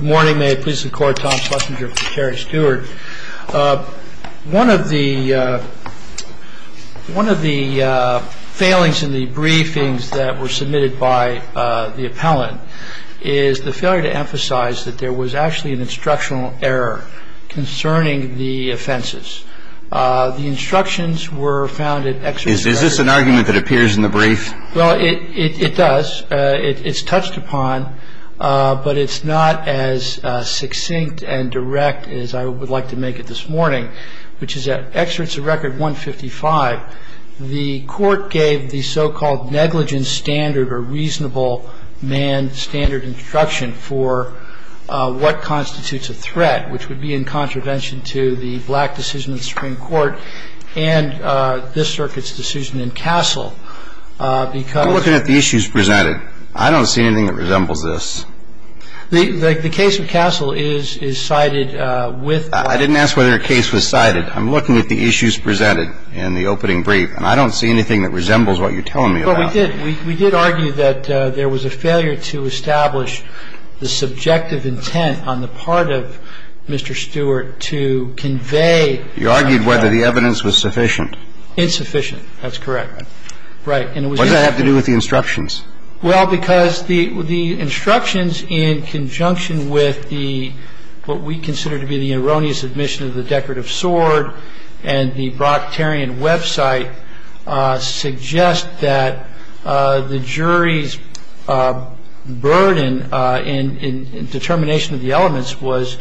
One of the failings in the briefings that were submitted by the appellant is the failure to emphasize that there was actually an instructional error concerning the offenses. The instructions were found at... Is this an argument that appears in the brief? Well, it does. It's touched upon, but it's not as succinct and direct as I would like to make it this morning, which is at Excerpts of Record 155. The court gave the so-called negligent standard or reasonable manned standard instruction for what constitutes a threat, which would be in contravention to the black decision of the Supreme Court and this circuit's decision in Castle because... I'm looking at the issues presented. I don't see anything that resembles this. The case of Castle is cited with... I didn't ask whether a case was cited. I'm looking at the issues presented in the opening brief, and I don't see anything that resembles what you're telling me about. Well, we did. We did argue that there was a failure to establish the subjective intent on the part of Mr. Stewart to convey... You argued whether the evidence was sufficient. Insufficient. That's correct. Right. And it was... What does that have to do with the instructions? Well, because the instructions in conjunction with the... What we consider to be the erroneous admission of the decorative sword and the Brock Terrian website suggest that the jury's burden in determination of the elements was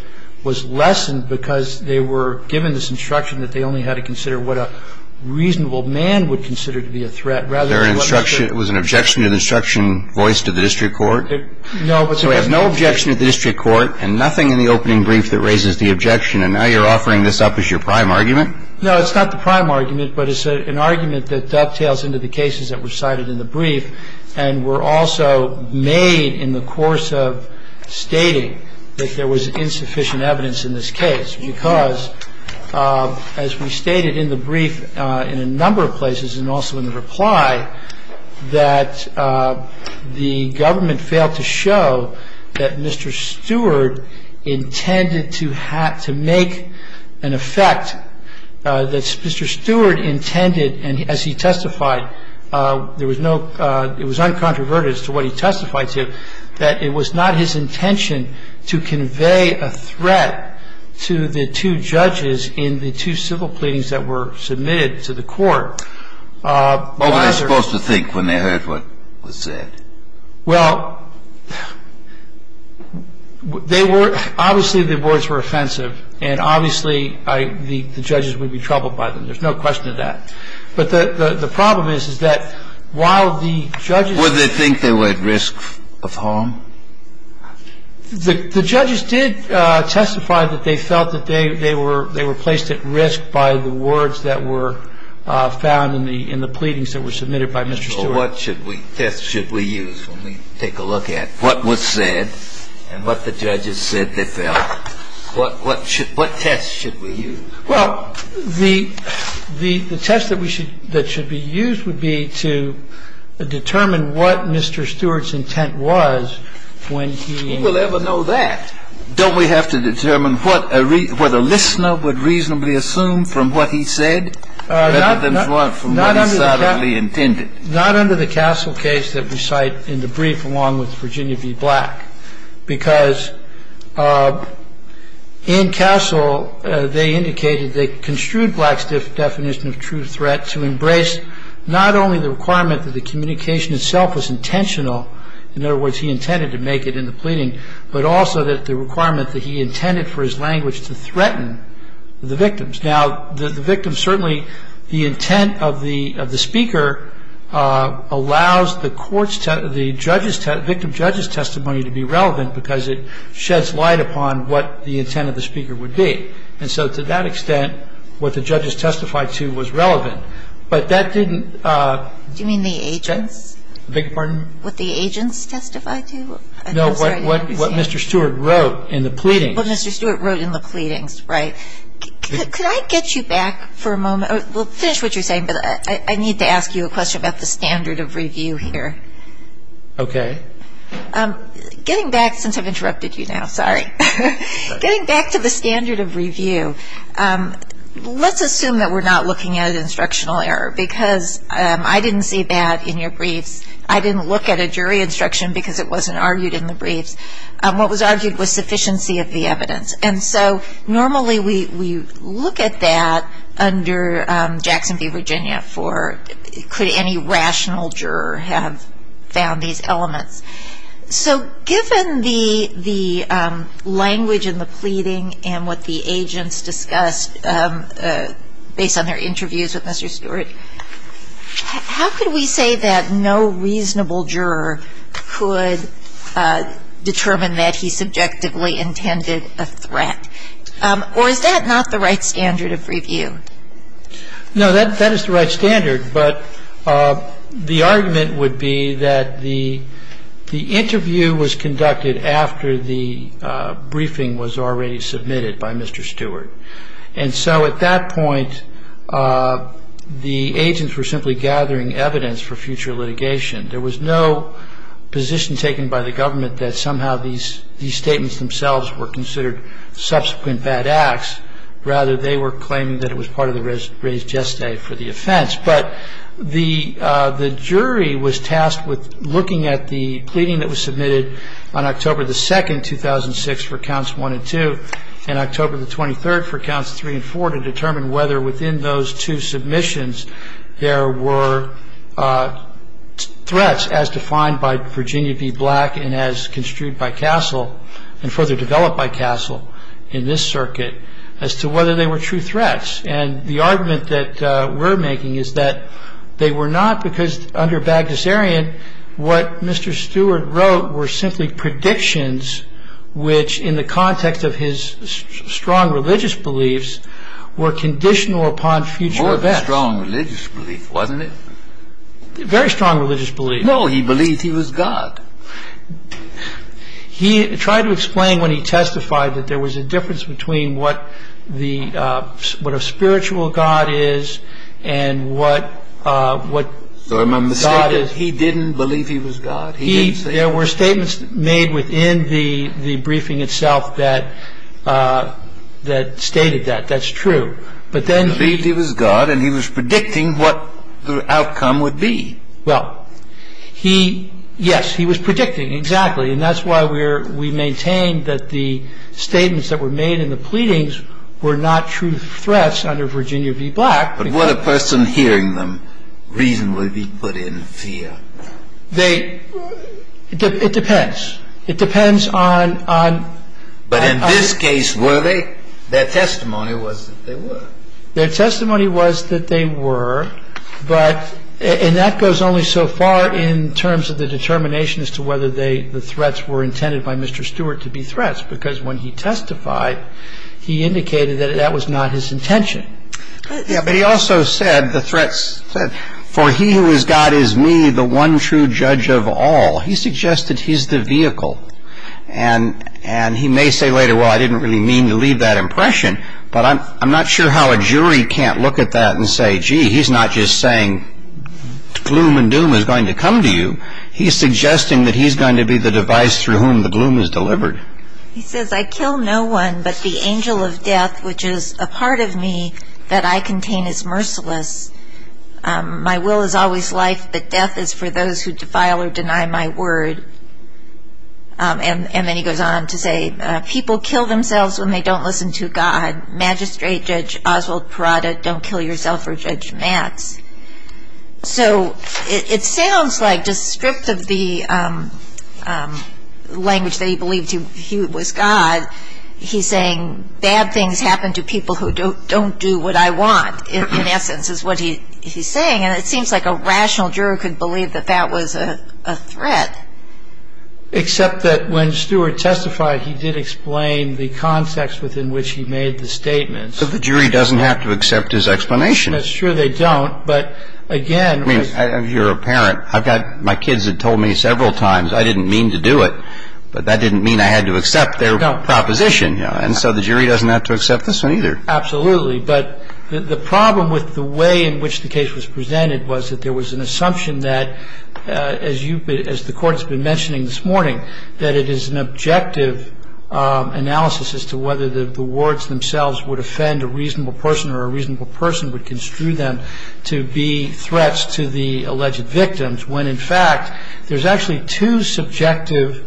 lessened because they were given this instruction that they only had to consider what a reasonable man would consider to be a threat rather than... Was there an instruction... Was an objection to the instruction voiced to the district court? No, but... So we have no objection to the district court and nothing in the opening brief that raises the objection. And now you're offering this up as your prime argument? No, it's not the prime argument, but it's an argument that dovetails into the cases that were cited in the brief and were also made in the course of stating that there was insufficient evidence in this case because, as we stated in the brief in a number of places and also in the reply, that the government failed to show that Mr. Stewart intended to make an effect... What were they supposed to think when they heard what was said? Well, they were... Obviously, the words were offensive, and obviously, the judges would be troubled by them. There's no question of that. But the problem is, is that while the judges... Would they think they were at risk of harm? The judges did testify that they felt that they were placed at risk by the words that were found in the pleadings that were submitted by Mr. Stewart. So what should we use when we take a look at what was said and what the judges said they felt? What test should we use? Well, the test that should be used would be to determine what Mr. Stewart's intent was when he... We'll never know that. Don't we have to determine what a listener would reasonably assume from what he said rather than from what he solidly intended? Not under the Castle case that we cite in the brief along with Virginia v. Black. Because in Castle, they indicated they construed Black's definition of true threat to embrace not only the requirement that the communication itself was intentional... In other words, he intended to make it in the pleading, but also that the requirement that he intended for his language to threaten the victims. Now, the victim certainly... The intent of the speaker allows the court's... The victim judge's testimony to be relevant because it sheds light upon what the intent of the speaker would be. And so to that extent, what the judges testified to was relevant. But that didn't... Do you mean the agents? Beg your pardon? What the agents testified to? No, what Mr. Stewart wrote in the pleadings. What Mr. Stewart wrote in the pleadings, right. Could I get you back for a moment? We'll finish what you're saying, but I need to ask you a question about the standard of review here. Okay. Getting back, since I've interrupted you now, sorry. Getting back to the standard of review, let's assume that we're not looking at an instructional error. Because I didn't see that in your briefs. I didn't look at a jury instruction because it wasn't argued in the briefs. What was argued was sufficiency of the evidence. And so normally we look at that under Jackson v. Virginia for could any rational juror have found these elements. So given the language in the pleading and what the agents discussed based on their interviews with Mr. Stewart, how could we say that no reasonable juror could determine that he subjectively intended a threat? Or is that not the right standard of review? No, that is the right standard. But the argument would be that the interview was conducted after the briefing was already submitted by Mr. Stewart. And so at that point, the agents were simply gathering evidence for future litigation. There was no position taken by the government that somehow these statements themselves were considered subsequent bad acts. Rather, they were claiming that it was part of the res geste for the offense. But the jury was tasked with looking at the pleading that was submitted on October the 2nd, 2006, for counts one and two, and October the 23rd for counts three and four, to determine whether within those two submissions there were threats as defined by Virginia v. Black and as construed by Castle and further developed by Castle in this circuit as to whether they were true threats. And the argument that we're making is that they were not, because under Bagdasarian, what Mr. Stewart wrote were simply predictions which, in the context of his strong religious beliefs, were conditional upon future events. More of a strong religious belief, wasn't it? Very strong religious belief. No, he believed he was God. He tried to explain when he testified that there was a difference between what a spiritual God is and what God is. He didn't believe he was God. There were statements made within the briefing itself that stated that. That's true. He believed he was God, and he was predicting what the outcome would be. Well, he, yes, he was predicting, exactly. And that's why we maintain that the statements that were made in the pleadings were not true threats under Virginia v. Black. But would a person hearing them reasonably be put in fear? They, it depends. It depends on. But in this case, were they? Their testimony was that they were. Their testimony was that they were. But, and that goes only so far in terms of the determination as to whether they, the threats were intended by Mr. Stewart to be threats. Because when he testified, he indicated that that was not his intention. Yeah, but he also said, the threats said, for he who is God is me, the one true judge of all. He suggested he's the vehicle. And he may say later, well, I didn't really mean to leave that impression. But I'm not sure how a jury can't look at that and say, gee, he's not just saying gloom and doom is going to come to you. He's suggesting that he's going to be the device through whom the gloom is delivered. He says, I kill no one but the angel of death, which is a part of me that I contain as merciless. My will is always life, but death is for those who defile or deny my word. And then he goes on to say, people kill themselves when they don't listen to God. Magistrate, Judge Oswald Parada, don't kill yourself or Judge Matz. So it sounds like, just stripped of the language that he believed he was God, he's saying, bad things happen to people who don't do what I want, in essence, is what he's saying. And it seems like a rational juror could believe that that was a threat. Except that when Stewart testified, he did explain the context within which he made the statements. So the jury doesn't have to accept his explanation. Sure, they don't. But, again, I mean, you're a parent. I've got my kids that told me several times, I didn't mean to do it. But that didn't mean I had to accept their proposition. And so the jury doesn't have to accept this one either. Absolutely. But the problem with the way in which the case was presented was that there was an assumption that, as the Court's been mentioning this morning, that it is an objective analysis as to whether the words themselves would offend a reasonable person or a reasonable person would construe them to be threats to the alleged victims, when, in fact, there's actually two subjective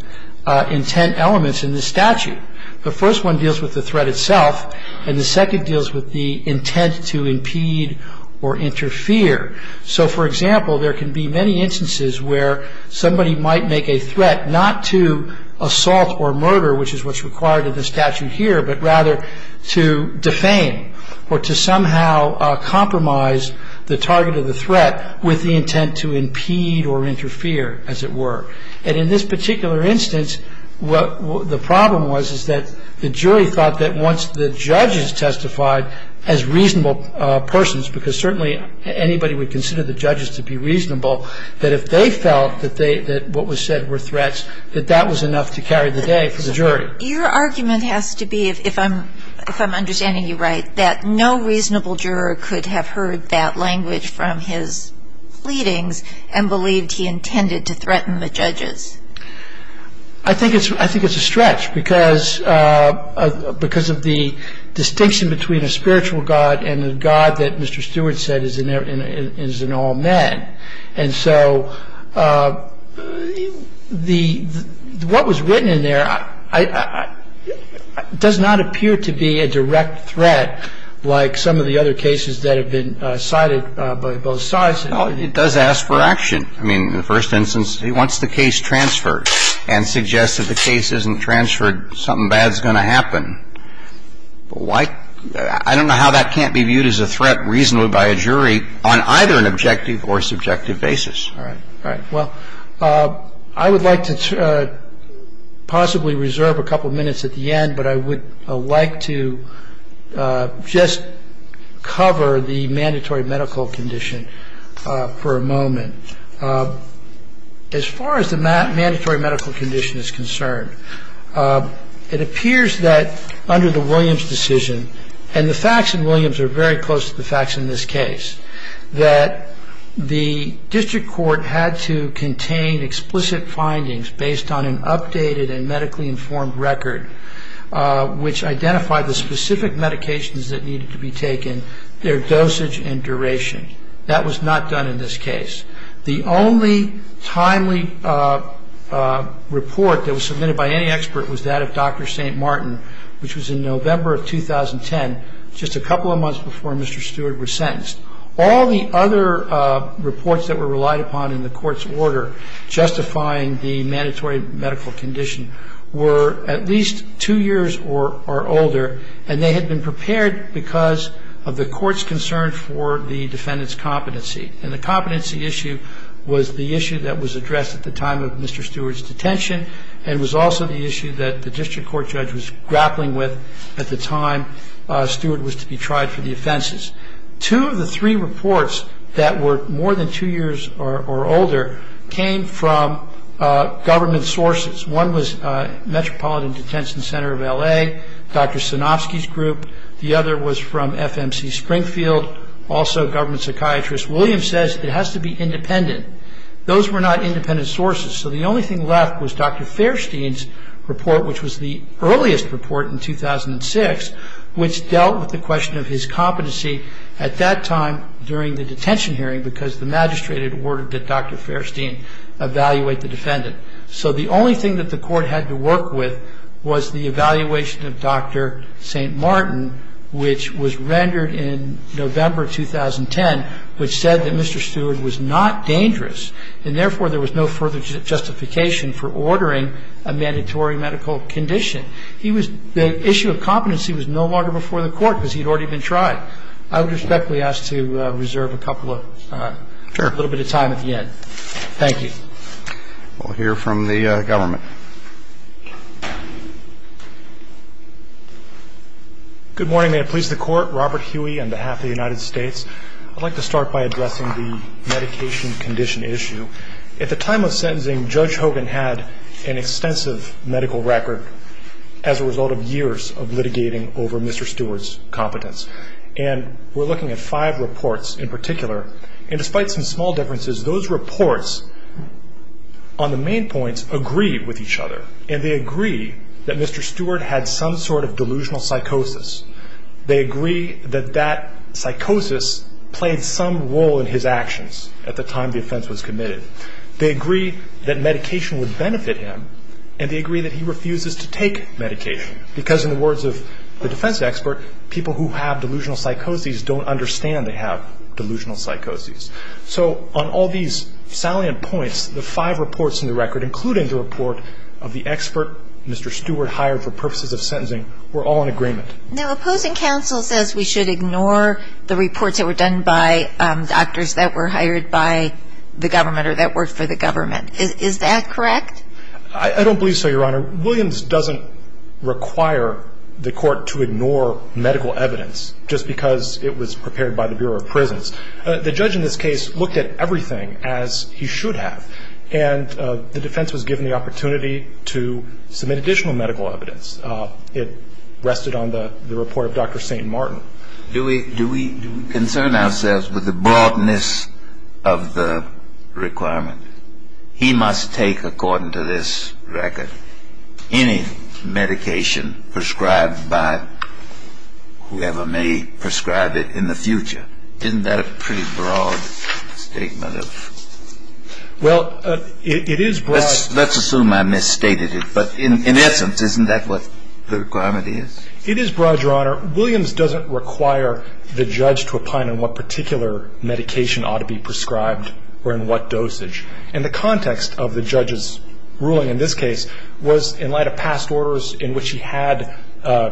intent elements in this statute. The first one deals with the threat itself. And the second deals with the intent to impede or interfere. So, for example, there can be many instances where somebody might make a threat not to assault or murder, which is what's required in the statute here, but rather to defame or to somehow compromise the target of the threat with the intent to impede or interfere, as it were. And in this particular instance, what the problem was is that the jury thought that once the judges testified as reasonable persons, because certainly anybody would consider the judges to be reasonable, that if they felt that what was said were threats, that that was enough to carry the day for the jury. Your argument has to be, if I'm understanding you right, that no reasonable juror could have heard that language from his pleadings and believed he intended to threaten the judges. I think it's a stretch because of the distinction between a spiritual God and a God that Mr. Stewart said is in all men. And so what was written in there does not appear to be a direct threat, like some of the other cases that have been cited by both sides. And so I think the question is, And, in fact, I think it's a good question. I mean, it does ask for action. I mean, in the first instance, he wants the case transferred and suggests that the case isn't transferred, something bad's going to happen. But why ‑‑ I don't know how that can't be viewed as a threat reasonably by a jury on either an objective or subjective basis. All right. All right. Well, I would like to possibly reserve a couple minutes at the end, but I would like to just cover the mandatory medical condition for a moment. As far as the mandatory medical condition is concerned, it appears that under the Williams decision, and the facts in Williams are very close to the facts in this case, that the district court had to contain explicit findings based on an updated and medically informed record, which identified the specific medications that needed to be taken, their dosage and duration. That was not done in this case. The only timely report that was submitted by any expert was that of Dr. St. Martin, which was in November of 2010, just a couple of months before Mr. Stewart was sentenced. All the other reports that were relied upon in the court's order justifying the mandatory medical condition were at least two years or older, and they had been prepared because of the court's concern for the defendant's competency. And the competency issue was the issue that was addressed at the time of Mr. Stewart's detention and was also the issue that the district court judge was grappling with at the time Stewart was to be tried for the offenses. Two of the three reports that were more than two years or older came from government sources. One was Metropolitan Detention Center of L.A., Dr. Sinofsky's group. The other was from FMC Springfield, also a government psychiatrist. Williams says it has to be independent. Those were not independent sources, so the only thing left was Dr. Fairstein's report, which was the earliest report in 2006, which dealt with the question of his competency at that time during the detention hearing because the magistrate had ordered that Dr. Fairstein evaluate the defendant. So the only thing that the court had to work with was the evaluation of Dr. St. Martin, which was rendered in November 2010, which said that Mr. Stewart was not dangerous, and therefore there was no further justification for ordering a mandatory medical condition. The issue of competency was no longer before the court because he had already been tried. I would respectfully ask to reserve a little bit of time at the end. Thank you. We'll hear from the government. Good morning. May it please the Court. Robert Huey on behalf of the United States. I'd like to start by addressing the medication condition issue. At the time of sentencing, Judge Hogan had an extensive medical record as a result of years of litigating over Mr. Stewart's competence, and we're looking at five reports in particular, and despite some small differences, those reports on the main points agree with each other, and they agree that Mr. Stewart had some sort of delusional psychosis. They agree that that psychosis played some role in his actions at the time the offense was committed. They agree that medication would benefit him, and they agree that he refuses to take medication because, in the words of the defense expert, people who have delusional psychoses don't understand they have delusional psychoses. So on all these salient points, the five reports in the record, including the report of the expert Mr. Stewart hired for purposes of sentencing, were all in agreement. Now, opposing counsel says we should ignore the reports that were done by doctors that were hired by the government or that worked for the government. Is that correct? I don't believe so, Your Honor. Williams doesn't require the court to ignore medical evidence just because it was prepared by the Bureau of Prisons. The judge in this case looked at everything as he should have, and the defense was given the opportunity to submit additional medical evidence. It rested on the report of Dr. St. Martin. Do we concern ourselves with the broadness of the requirement? He must take, according to this record, any medication prescribed by whoever may prescribe it in the future. Isn't that a pretty broad statement of ---- Well, it is broad. Let's assume I misstated it. But in essence, isn't that what the requirement is? It is broad, Your Honor. Williams doesn't require the judge to opine on what particular medication ought to be prescribed or in what dosage. And the context of the judge's ruling in this case was in light of past orders in which he had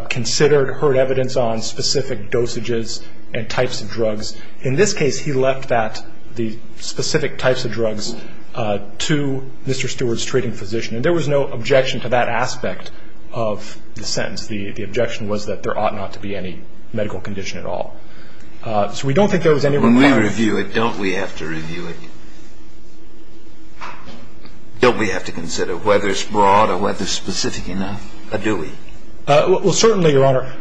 considered, heard evidence on specific dosages and types of drugs. In this case, he left that, the specific types of drugs, to Mr. Stewart's treating physician. And there was no objection to that aspect of the sentence. The objection was that there ought not to be any medical condition at all. So we don't think there was any requirement. When we review it, don't we have to review it? Don't we have to consider whether it's broad or whether it's specific enough, or do we? Well, certainly, Your Honor,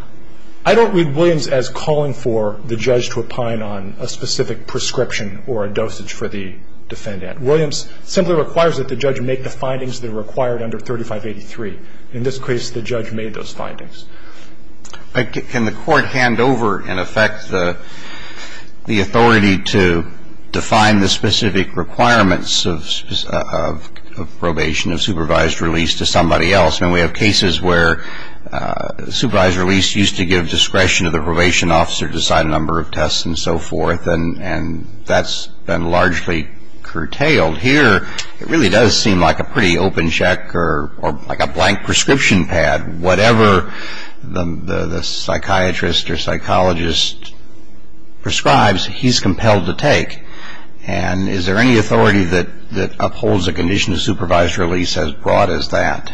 I don't read Williams as calling for the judge to opine on a specific prescription or a dosage for the defendant. Williams simply requires that the judge make the findings that are required under 3583. In this case, the judge made those findings. Can the Court hand over, in effect, the authority to define the specific requirements of probation, of supervised release to somebody else? I mean, we have cases where supervised release used to give discretion to the probation officer to decide a number of tests and so forth, and that's been largely curtailed. Here, it really does seem like a pretty open check or like a blank prescription pad. Whatever the psychiatrist or psychologist prescribes, he's compelled to take. And is there any authority that upholds a condition of supervised release as broad as that?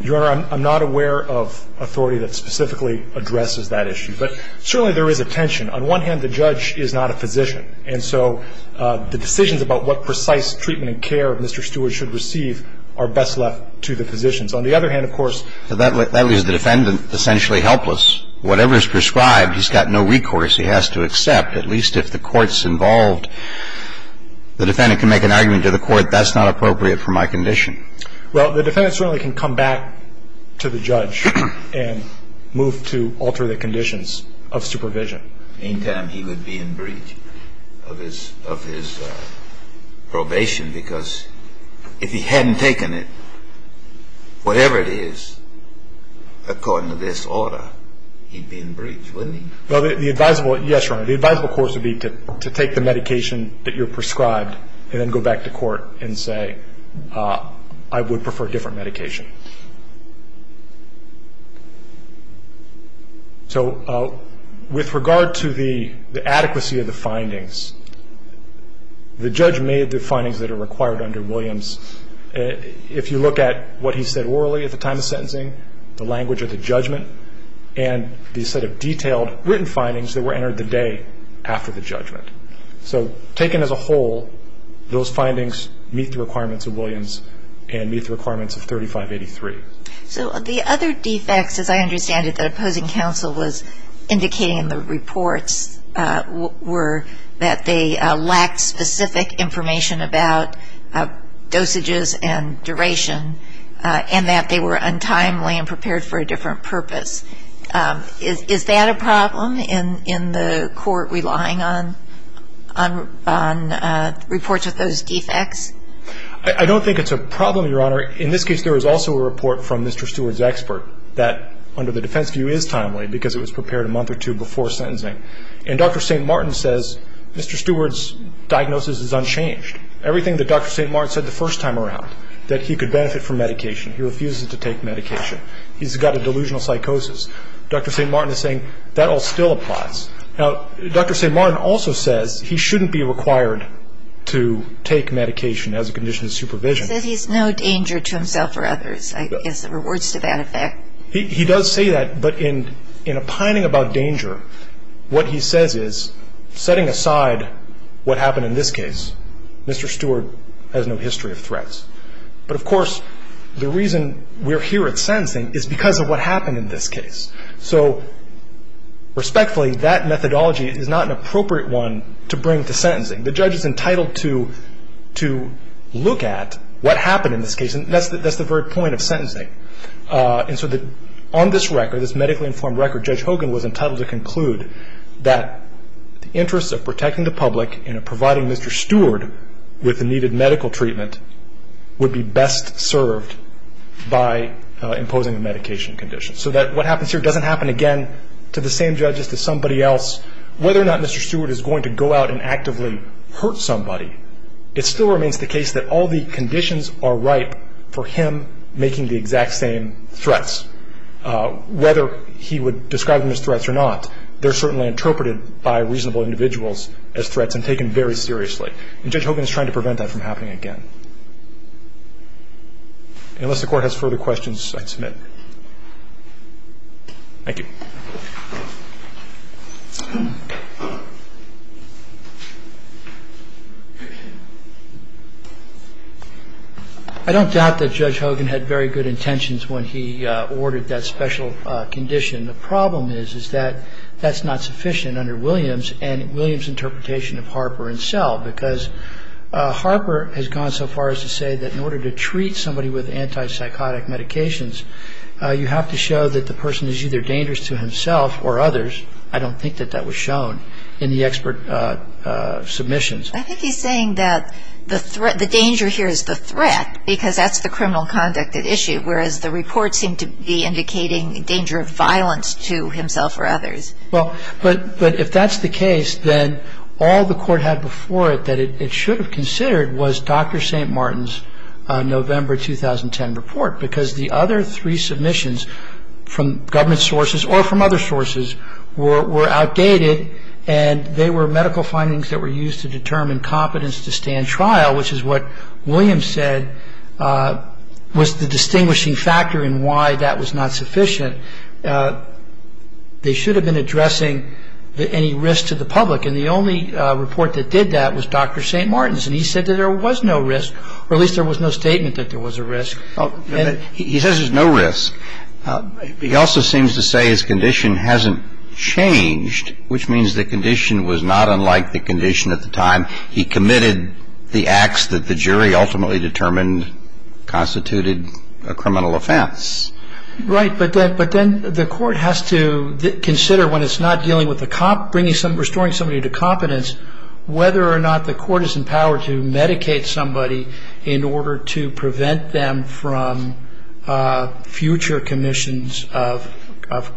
Your Honor, I'm not aware of authority that specifically addresses that issue. But certainly, there is a tension. On one hand, the judge is not a physician, and so the decisions about what precise treatment and care Mr. Stewart should receive are best left to the physicians. On the other hand, of course, that leaves the defendant essentially helpless. Whatever is prescribed, he's got no recourse. He has to accept, at least if the court's involved, the defendant can make an argument to the court, that's not appropriate for my condition. Well, the defendant certainly can come back to the judge and move to alter the conditions of supervision. Meantime, he would be in breach of his probation because if he hadn't taken it, whatever it is, according to this order, he'd be in breach, wouldn't he? Well, the advisable, yes, Your Honor, the advisable course would be to take the medication that you're prescribed and then go back to court and say, I would prefer a different medication. So with regard to the adequacy of the findings, the judge made the findings that are required under Williams. If you look at what he said orally at the time of sentencing, the language of the judgment, and the set of detailed written findings that were entered the day after the judgment. So taken as a whole, those findings meet the requirements of Williams and meet the requirements of 3583. So the other defects, as I understand it, that opposing counsel was indicating in the reports were that they lacked specific information about dosages and duration and that they were untimely and prepared for a different purpose. Is that a problem in the court relying on reports of those defects? I don't think it's a problem, Your Honor. In this case, there was also a report from Mr. Stewart's expert that under the defense view is timely because it was prepared a month or two before sentencing. And Dr. St. Martin says Mr. Stewart's diagnosis is unchanged. Everything that Dr. St. Martin said the first time around, that he could benefit from medication. He refuses to take medication. He's got a delusional psychosis. Dr. St. Martin is saying that all still applies. Now, Dr. St. Martin also says he shouldn't be required to take medication as a condition of supervision. He says he's no danger to himself or others. I guess it rewards to that effect. He does say that, but in opining about danger, what he says is, setting aside what happened in this case, Mr. Stewart has no history of threats. But, of course, the reason we're here at sentencing is because of what happened in this case. So respectfully, that methodology is not an appropriate one to bring to sentencing. The judge is entitled to look at what happened in this case, and that's the very point of sentencing. And so on this record, this medically informed record, Judge Hogan was entitled to conclude that the interests of protecting the public and of providing Mr. Stewart with the needed medical treatment would be best served by imposing a medication condition. So that what happens here doesn't happen again to the same judges, to somebody else. Whether or not Mr. Stewart is going to go out and actively hurt somebody, it still remains the case that all the conditions are ripe for him making the exact same threats. Whether he would describe them as threats or not, they're certainly interpreted by reasonable individuals as threats and taken very seriously. And Judge Hogan is trying to prevent that from happening again. Unless the Court has further questions, I'd submit. Thank you. I don't doubt that Judge Hogan had very good intentions when he ordered that special condition. The problem is that that's not sufficient under Williams and Williams' interpretation of Harper and Sell, because Harper has gone so far as to say that in order to treat somebody with antipsychotic medications, you have to show that the person is either dangerous to himself or others. I don't think that that was shown in the expert submissions. I think he's saying that the danger here is the threat, because that's the criminal conduct at issue, whereas the report seemed to be indicating danger of violence to himself or others. Well, but if that's the case, then all the Court had before it that it should have considered was Dr. St. Martin's November 2010 report, because the other three submissions from government sources or from other sources were outdated, and they were medical findings that were used to determine competence to stand trial, which is what Williams said was the distinguishing factor in why that was not sufficient. They should have been addressing any risk to the public, and the only report that did that was Dr. St. Martin's, and he said that there was no risk, or at least there was no statement that there was a risk. He says there's no risk. He also seems to say his condition hasn't changed, which means the condition was not unlike the condition at the time he committed the acts that the jury ultimately determined constituted a criminal offense. Right. But then the Court has to consider when it's not dealing with a cop, restoring somebody to competence, whether or not the Court is empowered to medicate somebody in order to prevent them from future commissions of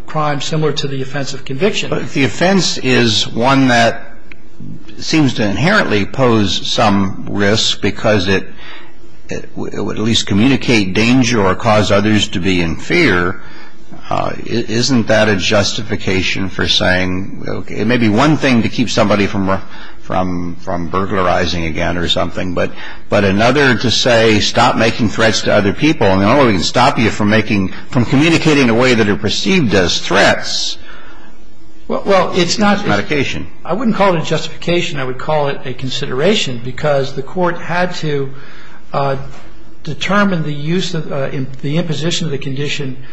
crime similar to the offense of conviction. The offense is one that seems to inherently pose some risk because it would at least communicate danger or cause others to be in fear. Isn't that a justification for saying, okay, it may be one thing to keep somebody from burglarizing again or something, but another to say stop making threats to other people, and the only way we can stop you from communicating in a way that are perceived as threats is medication. I wouldn't call it a justification. I would call it a consideration, because the Court had to determine the use of the imposition of the condition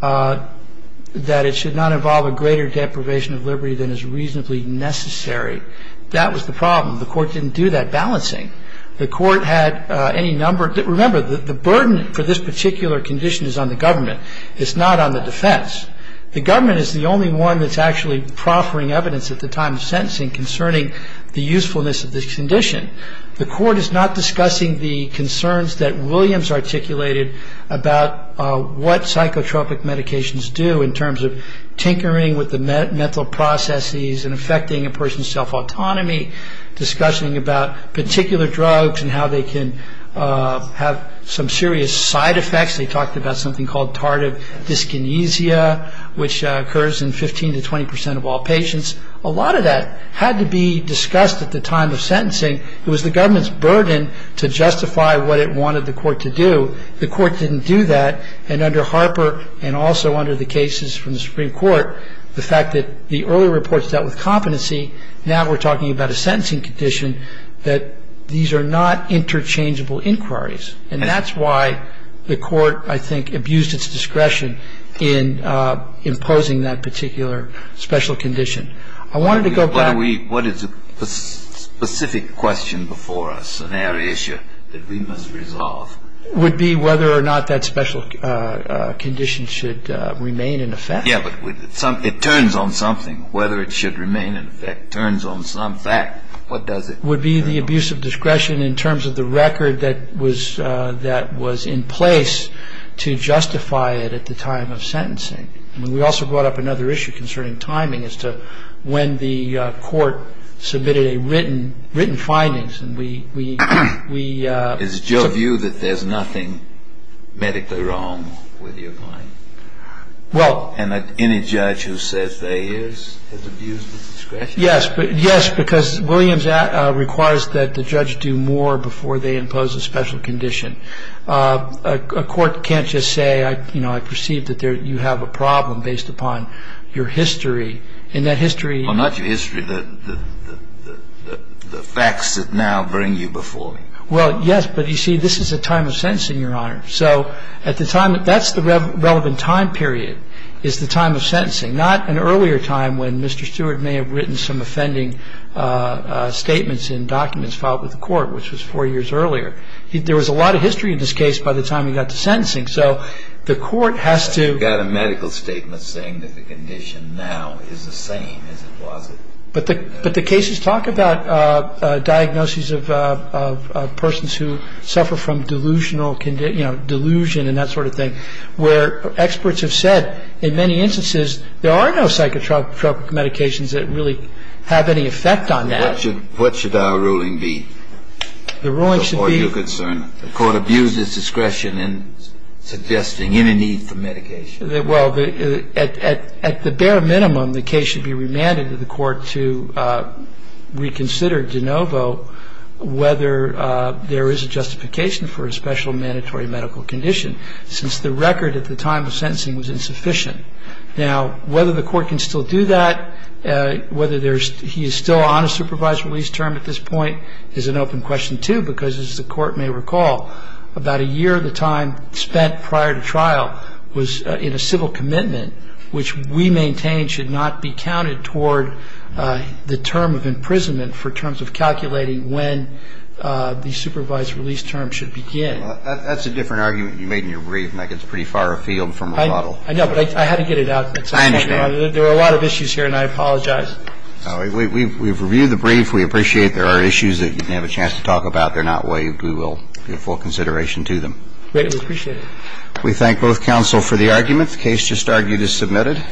that it should not involve a greater deprivation of liberty than is reasonably necessary. That was the problem. The Court didn't do that balancing. The Court had any number. Remember, the burden for this particular condition is on the government. It's not on the defense. The government is the only one that's actually proffering evidence at the time of sentencing concerning the usefulness of this condition. The Court is not discussing the concerns that Williams articulated about what psychotropic medications do in terms of tinkering with the mental processes and affecting a person's self-autonomy, discussing about particular drugs and how they can have some serious side effects. They talked about something called tardive dyskinesia, which occurs in 15 to 20 percent of all patients. A lot of that had to be discussed at the time of sentencing. It was the government's burden to justify what it wanted the Court to do. The Court didn't do that. And under Harper and also under the cases from the Supreme Court, the fact that the earlier reports dealt with competency, now we're talking about a sentencing condition, that these are not interchangeable inquiries. And that's why the Court, I think, abused its discretion in imposing that particular special condition. I wanted to go back... What is the specific question before us on our issue that we must resolve? Would be whether or not that special condition should remain in effect. Yeah, but it turns on something. Whether it should remain in effect turns on some fact. What does it turn on? Would be the abuse of discretion in terms of the record that was in place to justify it at the time of sentencing. We also brought up another issue concerning timing as to when the Court submitted written findings. Is it your view that there's nothing medically wrong with your client? Well... And that any judge who says there is has abused the discretion? Yes, because Williams requires that the judge do more before they impose a special condition. A court can't just say, you know, I perceive that you have a problem based upon your history. In that history... Well, not your history. The facts that now bring you before me. Well, yes, but you see, this is a time of sentencing, Your Honor. So at the time, that's the relevant time period, is the time of sentencing. Not an earlier time when Mr. Stewart may have written some offending statements and documents filed with the Court, which was four years earlier. There was a lot of history in this case by the time he got to sentencing. So the Court has to... He got a medical statement saying that the condition now is the same as it was. But the cases talk about diagnoses of persons who suffer from delusional condition, you know, delusion and that sort of thing, where experts have said in many instances there are no psychotropic medications that really have any effect on that. What should our ruling be? The ruling should be... The Court abuses discretion in suggesting any need for medication. Well, at the bare minimum, the case should be remanded to the Court to reconsider de novo whether there is a justification for a special mandatory medical condition. Since the record at the time of sentencing was insufficient. Now, whether the Court can still do that, whether he is still on a supervised release term at this point is an open question, too, because as the Court may recall, about a year of the time spent prior to trial was in a civil commitment, which we maintain should not be counted toward the term of imprisonment for terms of calculating when the supervised release term should begin. And I think that's a different argument you made in your brief, and that gets pretty far afield from the model. I know, but I had to get it out at some point. There are a lot of issues here, and I apologize. We've reviewed the brief. We appreciate there are issues that you didn't have a chance to talk about. They're not waived. We will give full consideration to them. We appreciate it. We thank both counsel for the argument. The case just argued is submitted.